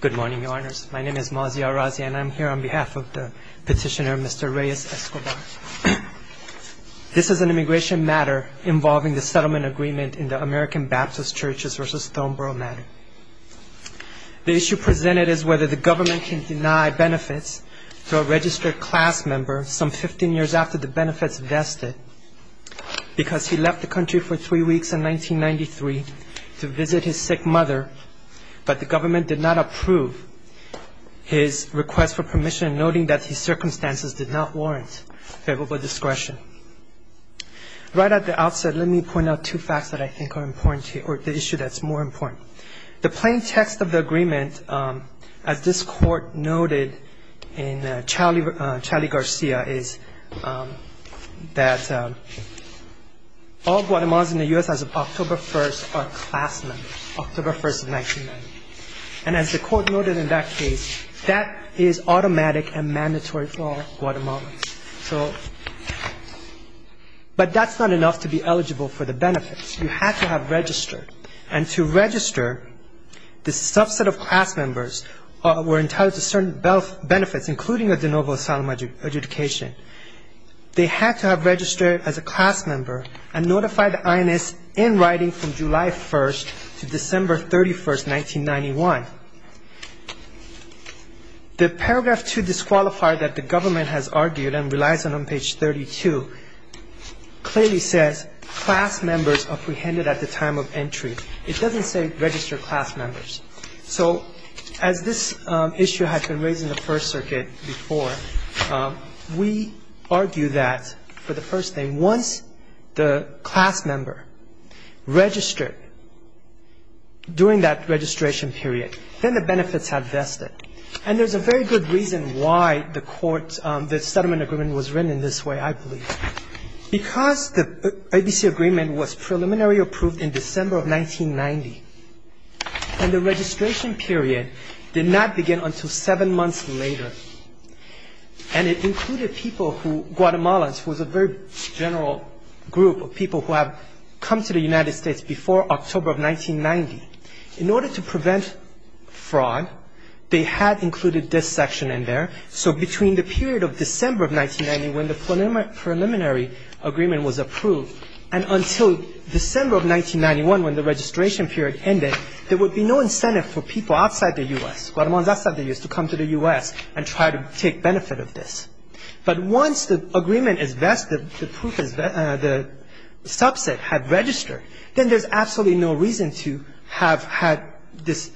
Good morning, Your Honors. My name is Maziar Razia, and I'm here on behalf of the petitioner, Mr. Reyes-Escobar. This is an immigration matter involving the settlement agreement in the American Baptist Churches v. Thornborough matter. The issue presented is whether the government can deny benefits to a registered class member some 15 years after the benefits vested because he left the country for three weeks in 1993 to visit his sick mother, but the government did not approve his request for permission, noting that his circumstances did not warrant favorable discretion. Right at the outset, let me point out two facts that I think are important to you, or the issue that's more important. The plain text of the agreement, as this Court noted in Charlie Garcia, is that all Guatemalans in the U.S. as of October 1st are class members, October 1st, 1990. And as the Court noted in that case, that is automatic and mandatory for all Guatemalans. But that's not enough to be eligible for the benefits. You have to have registered, and to register, the subset of class members were entitled to certain benefits, including a de novo asylum adjudication. They had to have registered as a class member and notified the INS in writing from July 1st to December 31st, 1991. The paragraph 2 disqualifier that the government has argued and relies on on page 32 clearly says, class members apprehended at the time of entry. It doesn't say registered class members. So as this issue has been raised in the First Circuit before, we argue that, for the first thing, once the class member registered during that registration period, then the benefits have vested. And there's a very good reason why the settlement agreement was written in this way, I believe. Because the ABC agreement was preliminarily approved in December of 1990, and the registration period did not begin until seven months later, and it included people who, Guatemalans, was a very general group of people who had come to the United States before October of 1990. In order to prevent fraud, they had included this section in there. So between the period of December of 1990, when the preliminary agreement was approved, and until December of 1991, when the registration period ended, there would be no incentive for people outside the U.S., Guatemalans outside the U.S., to come to the U.S. and try to take benefit of this. But once the agreement is vested, the proof is vested, the subset had registered, then there's absolutely no reason to have had this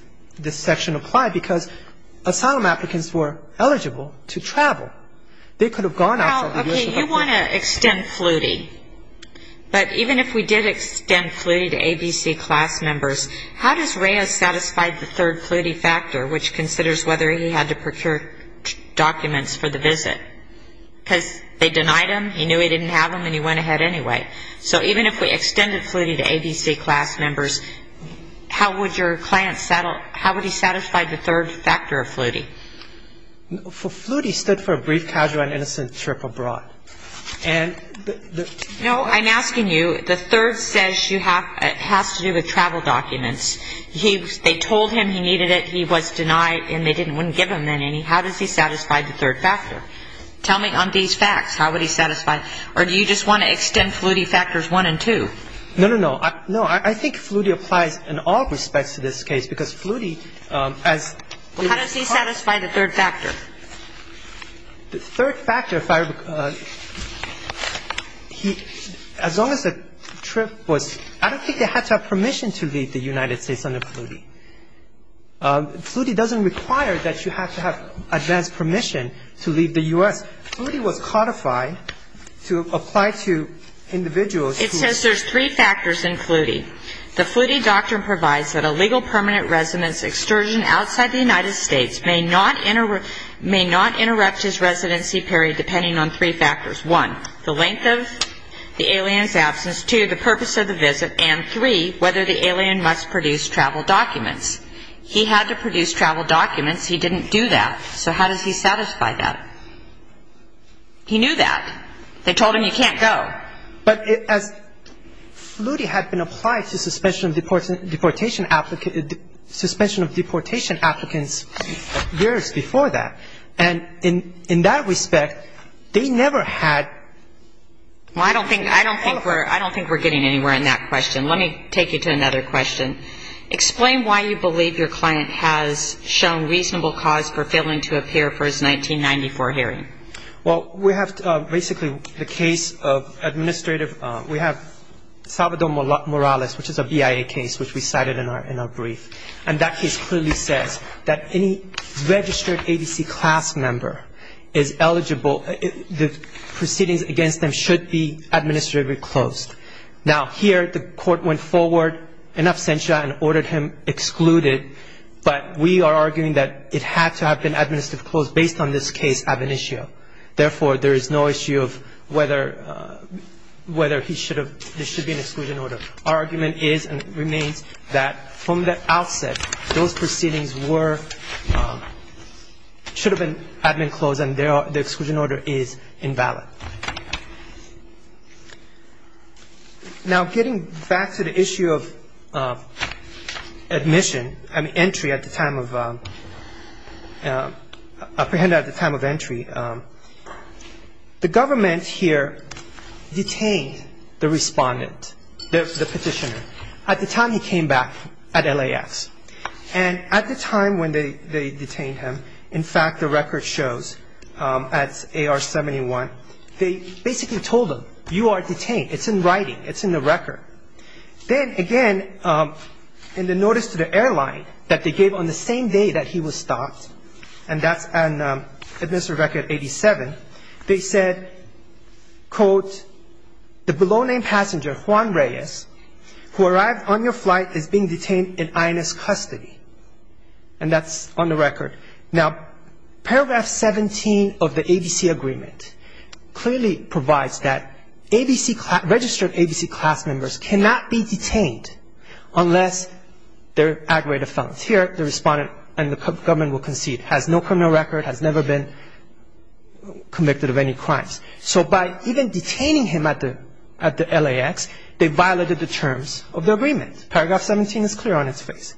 section applied, because asylum applicants were eligible to travel. They could have gone outside the U.S. Well, okay, you want to extend fluty. But even if we did extend fluty to ABC class members, how does REA satisfied the third fluty factor, which considers whether he had to procure documents for the visit? Because they denied him, he knew he didn't have them, and he went ahead anyway. So even if we extended fluty to ABC class members, how would your client, how would he satisfy the third factor of fluty? Fluty stood for brief, casual, and innocent trip abroad. And the No, I'm asking you, the third says you have, it has to do with travel documents. He, they told him he needed it, he was denied, and they didn't, wouldn't give him any. How does he satisfy the third factor? Tell me on these facts, how would he satisfy, or do you just want to extend fluty factors one and two? No, no, no. No, I think fluty applies in all respects to this case, because fluty, as How does he satisfy the third factor? The third factor, as long as the trip was, I don't think they had to have permission to leave the United States under fluty. Fluty doesn't require that you have to have advanced permission to leave the U.S. Fluty was codified to apply to individuals who It says there's three factors in fluty. The fluty doctrine provides that a legal permanent resident's extortion outside the United States may not interrupt his residency period depending on three factors. One, the length of the alien's absence. Two, the purpose of the visit. And three, whether the alien must produce travel documents. He had to produce travel documents. He didn't do that. So how does he satisfy that? He knew that. They told him you can't go. But as fluty had been applied to suspension of deportation applicants years before that, and in that respect, they never had Well, I don't think we're getting anywhere in that question. Let me take you to another question. Explain why you believe your client has shown reasonable cause for failing to appear for his 1994 hearing. Well, we have basically the case of administrative We have Salvador Morales, which is a BIA case, which we cited in our brief. And that case clearly says that any registered ABC class member is eligible The proceedings against them should be administratively closed. Now, here the court went forward in absentia and ordered him excluded, but we are arguing that it had to have been administratively closed based on this case ab initio. Therefore, there is no issue of whether he should have There should be an exclusion order. Our argument is and remains that from the outset, those proceedings were should have been admin closed and the exclusion order is invalid. Now, getting back to the issue of admission, I mean, entry at the time of apprehended at the time of entry, the government here detained the respondent, the petitioner. At the time he came back at LAFs, and at the time when they detained him, in fact, the record shows at AR-71, they basically told him, you are detained. It's in writing. It's in the record. Then again, in the notice to the airline that they gave on the same day that he was stopped, and that's an administrative record 87, they said, quote, Now, paragraph 17 of the ABC agreement clearly provides that registered ABC class members cannot be detained unless they're aggravated felonies. Here, the respondent and the government will concede, has no criminal record, has never been convicted of any crimes. So by even detaining him at the LAX, they violated the terms of the agreement. Paragraph 17 is clear on its face.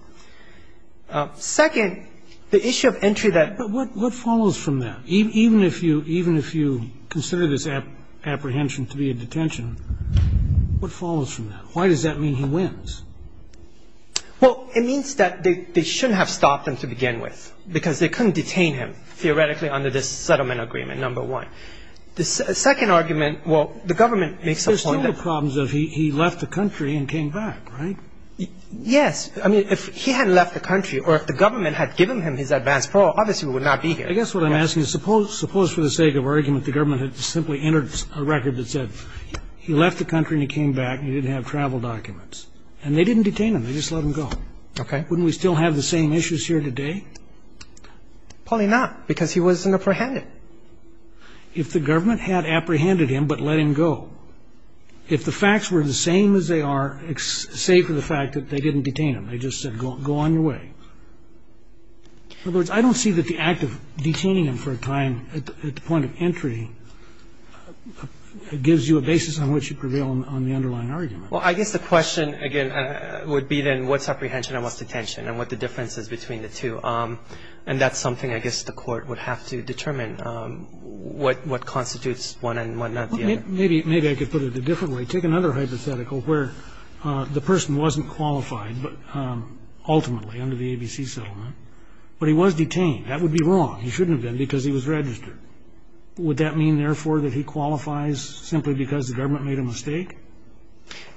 Second, the issue of entry that But what follows from that? Even if you consider this apprehension to be a detention, what follows from that? Why does that mean he wins? Well, it means that they shouldn't have stopped him to begin with, because they couldn't Second argument, well, the government makes a point that There's still the problems of he left the country and came back, right? Yes. I mean, if he hadn't left the country or if the government had given him his advance parole, obviously we would not be here. I guess what I'm asking is suppose for the sake of argument the government had simply entered a record that said he left the country and he came back and he didn't have travel documents, and they didn't detain him. They just let him go. Okay. Wouldn't we still have the same issues here today? Probably not, because he was an apprehender. If the government had apprehended him but let him go, if the facts were the same as they are, save for the fact that they didn't detain him, they just said go on your way. In other words, I don't see that the act of detaining him for a time at the point of entry gives you a basis on which you prevail on the underlying argument. Well, I guess the question, again, would be then what's apprehension and what's detention and what the difference is between the two. And that's something I guess the Court would have to determine what constitutes one and what not the other. Maybe I could put it a different way. Take another hypothetical where the person wasn't qualified ultimately under the ABC settlement, but he was detained. That would be wrong. He shouldn't have been because he was registered. Would that mean, therefore, that he qualifies simply because the government made a mistake?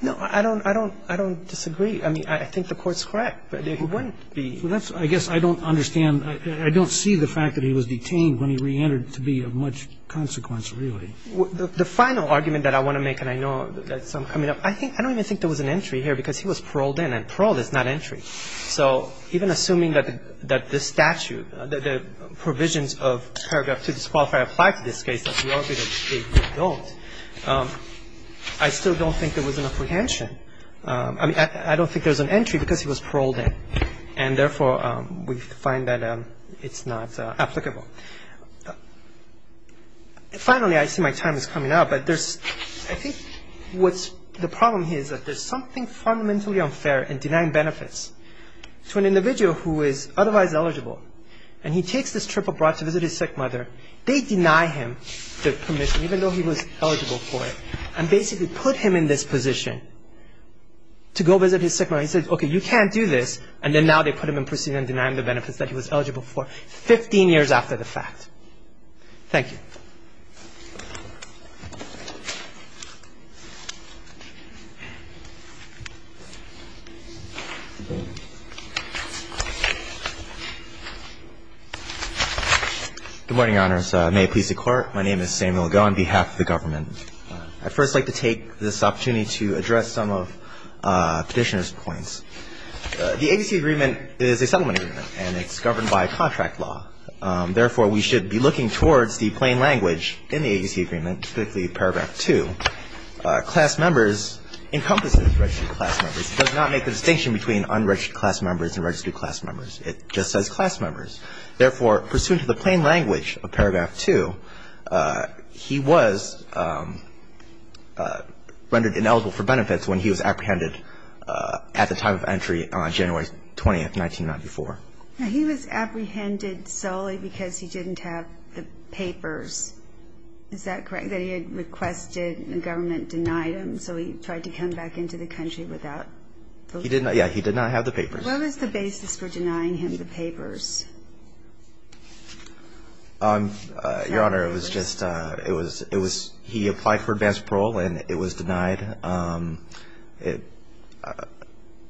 No, I don't disagree. I mean, I think the Court's correct. He wouldn't be. But that's, I guess, I don't understand. I don't see the fact that he was detained when he reentered to be of much consequence, really. The final argument that I want to make, and I know there's some coming up, I don't even think there was an entry here because he was paroled in. And paroled is not entry. So even assuming that this statute, the provisions of paragraph 2 disqualify apply to this case, as we argue that they don't, I still don't think there was an apprehension. I mean, I don't think there's an entry because he was paroled in. And, therefore, we find that it's not applicable. Finally, I see my time is coming up, but I think what's the problem here is that there's something fundamentally unfair in denying benefits to an individual who is otherwise eligible. And he takes this trip abroad to visit his sick mother. They deny him the permission, even though he was eligible for it, and basically put him in this position to go visit his sick mother. So he says, okay, you can't do this. And then now they put him in prison and deny him the benefits that he was eligible for 15 years after the fact. Thank you. Samuel Goh, Jr. Good morning, Your Honors. May it please the Court. My name is Samuel Goh on behalf of the government. And I'd first like to take this opportunity to address some of Petitioner's points. The agency agreement is a settlement agreement, and it's governed by contract law. Therefore, we should be looking towards the plain language in the agency agreement, specifically paragraph 2. Class members encompasses registered class members. It does not make the distinction between unregistered class members and registered class members. It just says class members. Therefore, pursuant to the plain language of paragraph 2, he was rendered ineligible for benefits when he was apprehended at the time of entry on January 20th, 1994. Now, he was apprehended solely because he didn't have the papers. Is that correct, that he had requested and the government denied him, so he tried to come back into the country without the papers? Yeah, he did not have the papers. What was the basis for denying him the papers? Your Honor, it was just he applied for advanced parole, and it was denied.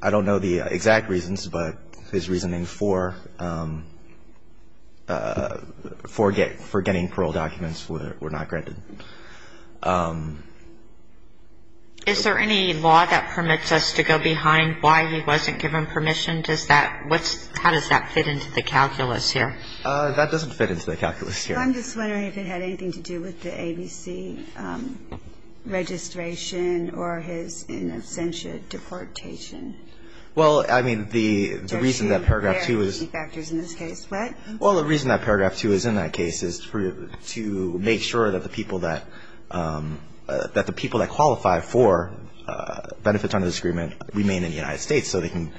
I don't know the exact reasons, but his reasoning for getting parole documents were not granted. Is there any law that permits us to go behind why he wasn't given permission? How does that fit into the calculus here? That doesn't fit into the calculus here. I'm just wondering if it had anything to do with the ABC registration or his in absentia deportation. Well, I mean, the reason that paragraph 2 is What? Well, the reason that paragraph 2 is in that case is to make sure that the people that qualify for benefits under this agreement remain in the United States so they can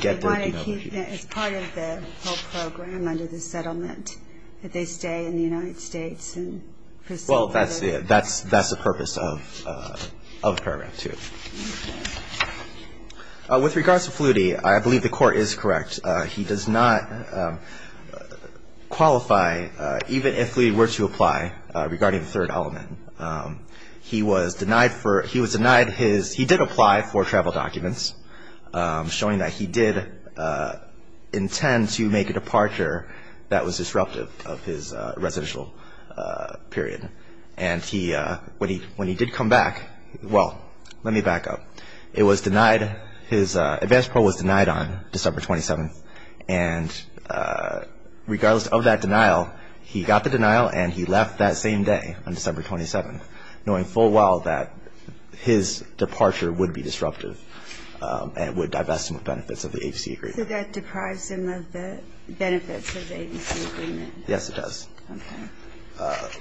get their denotation. So they want to keep that as part of the whole program under the settlement, that they stay in the United States and proceed further? Well, that's the purpose of paragraph 2. With regards to Flutie, I believe the Court is correct. He does not qualify, even if we were to apply, regarding the third element. He was denied his he did apply for travel documents, showing that he did intend to make a departure that was disruptive of his residential period. And when he did come back, well, let me back up. It was denied. His advance pro was denied on December 27th. And regardless of that denial, he got the denial and he left that same day on December 27th, knowing full well that his departure would be disruptive and would divest him of benefits of the ABC agreement. So that deprives him of the benefits of the ABC agreement? Yes, it does. Okay.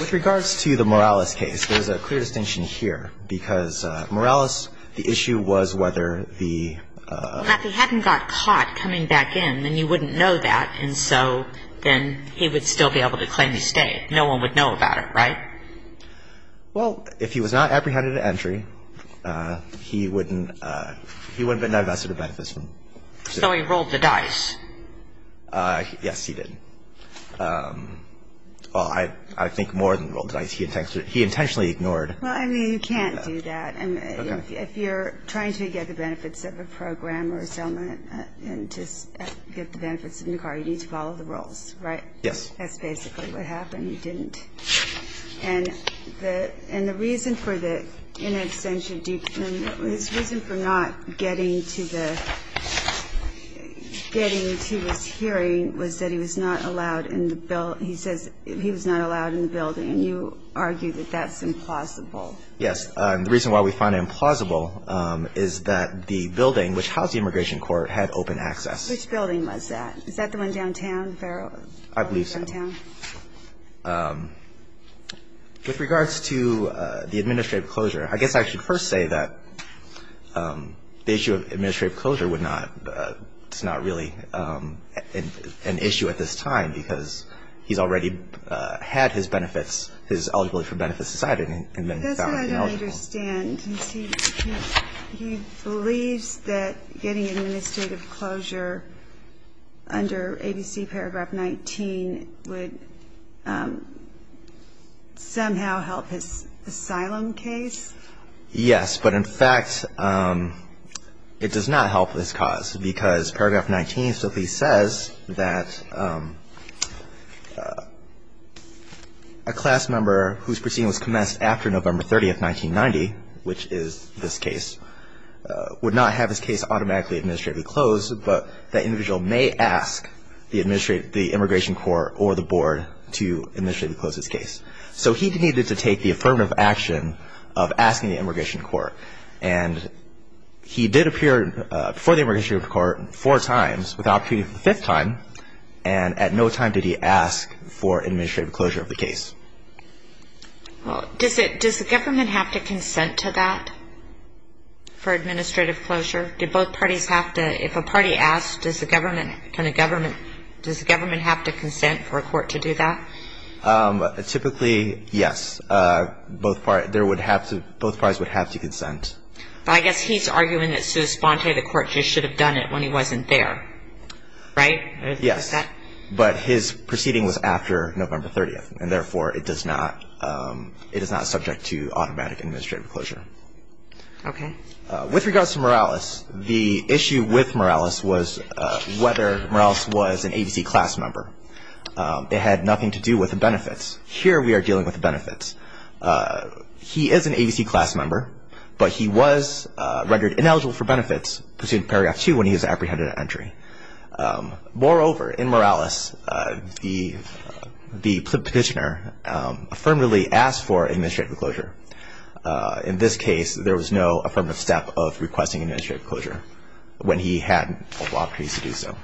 With regards to the Morales case, there's a clear distinction here because Morales, the issue was whether the Well, if he hadn't got caught coming back in, then you wouldn't know that, and so then he would still be able to claim his stay. No one would know about it, right? Well, if he was not apprehended at entry, he wouldn't have been divested of benefits. So he rolled the dice? Yes, he did. Well, I think more than rolled the dice. He intentionally ignored Well, I mean, you can't do that. Okay. And if you're trying to get the benefits of a program or a settlement and just get the benefits of Nicara, you need to follow the rules, right? That's basically what happened. He didn't. And the reason for the inextension of due process, his reason for not getting to the getting to his hearing was that he was not allowed in the building. He says he was not allowed in the building, and you argue that that's implausible. Yes. And the reason why we find it implausible is that the building which housed the Immigration Court had open access. Which building was that? Is that the one downtown? I believe so. Downtown? With regards to the administrative closure, I guess I should first say that the issue of administrative closure would not – it's not really an issue at this time because he's already had his benefits, his eligibility for benefits decided and been found ineligible. That's what I don't understand. He believes that getting administrative closure under ABC Paragraph 19 would somehow help his asylum case? Yes, but in fact, it does not help this cause because Paragraph 19 simply says that a class member whose proceeding was commenced after November 30, 1990, which is this case, would not have his case automatically administratively closed, but that individual may ask the Immigration Court or the Board to administratively close his case. So he needed to take the affirmative action of asking the Immigration Court. And he did appear before the Immigration Court four times without appearing for the fifth time. And at no time did he ask for administrative closure of the case. Does the government have to consent to that for administrative closure? If a party asks, does the government have to consent for a court to do that? Typically, yes. Both parties would have to consent. But I guess he's arguing that Suze Sponte, the court, just should have done it when he wasn't there. Right? Yes. But his proceeding was after November 30, and therefore it is not subject to automatic administrative closure. Okay. With regards to Morales, the issue with Morales was whether Morales was an ABC class member. It had nothing to do with the benefits. Here we are dealing with the benefits. He is an ABC class member, but he was rendered ineligible for benefits pursuant to Paragraph 2 when he was apprehended at entry. Moreover, in Morales, the petitioner affirmatively asked for administrative closure. In this case, there was no affirmative step of requesting administrative closure when he had multiple opportunities to do so.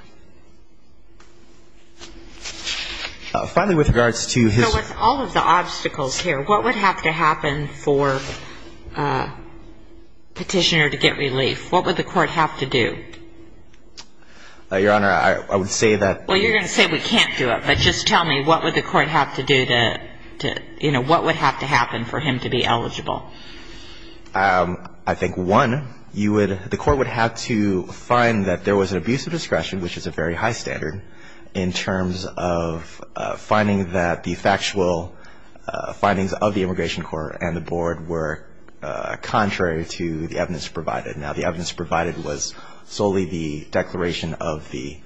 Finally, with regards to his ---- So with all of the obstacles here, what would have to happen for a petitioner to get relief? What would the court have to do? Your Honor, I would say that ---- Well, you're going to say we can't do it. But just tell me, what would the court have to do to, you know, what would have to happen for him to be eligible? I think, one, you would ---- the court would have to find that there was an abuse of discretion, which is a very high standard in terms of finding that the factual findings of the Immigration Court and the Board were contrary to the evidence provided. Now, the evidence provided was solely the declaration of the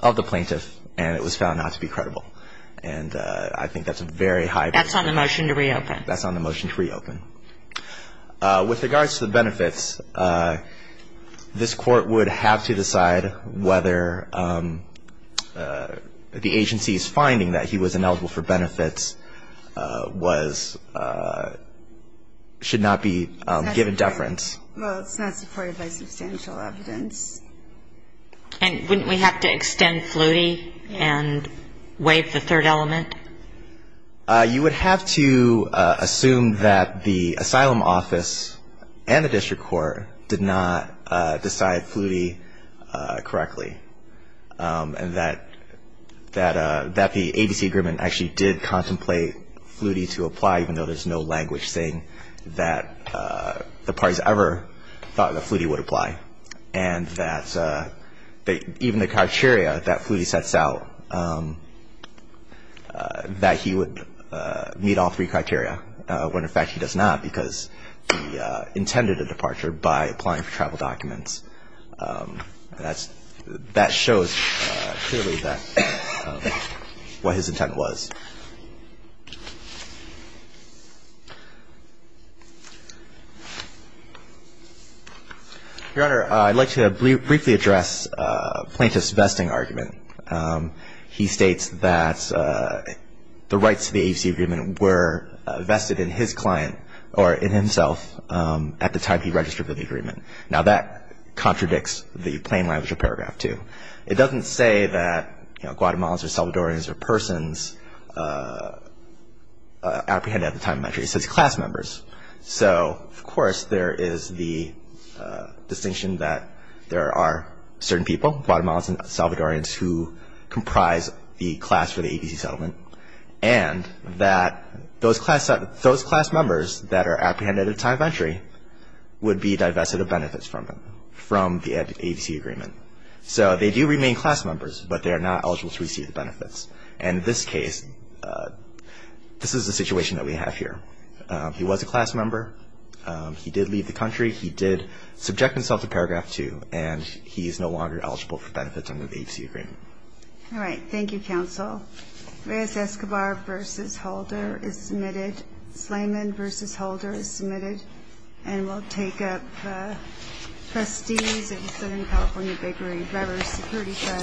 plaintiff, and it was found not to be credible. And I think that's a very high ---- That's on the motion to reopen. That's on the motion to reopen. With regards to the benefits, this court would have to decide whether the agency's finding that he was ineligible for benefits was ---- should not be given deference. Well, it's not supported by substantial evidence. And wouldn't we have to extend Flutie and waive the third element? You would have to assume that the asylum office and the district court did not decide Flutie correctly, and that the ABC agreement actually did contemplate Flutie to apply, even though there's no language saying that the parties ever thought that Flutie would apply, and that even the criteria that Flutie sets out, that he would meet all three criteria, when, in fact, he does not because he intended a departure by applying for travel documents. That shows clearly what his intent was. Your Honor, I'd like to briefly address Plaintiff's vesting argument. He states that the rights to the ABC agreement were vested in his client, or in himself, at the time he registered for the agreement. Now, that contradicts the plain language of Paragraph 2. It doesn't say that, you know, Guatemalans or Salvadorans or persons, apprehended at the time of entry. It says class members. So, of course, there is the distinction that there are certain people, Guatemalans and Salvadorans, who comprise the class for the ABC settlement, and that those class members that are apprehended at the time of entry would be divested of benefits from the ABC agreement. So they do remain class members, but they are not eligible to receive the benefits. And in this case, this is the situation that we have here. He was a class member. He did leave the country. He did subject himself to Paragraph 2, and he is no longer eligible for benefits under the ABC agreement. All right. Thank you, counsel. Reyes-Escobar v. Holder is submitted. Slayman v. Holder is submitted. And we'll take up the trustees of Southern California Bakery Brewery Security Fund v. Middleton.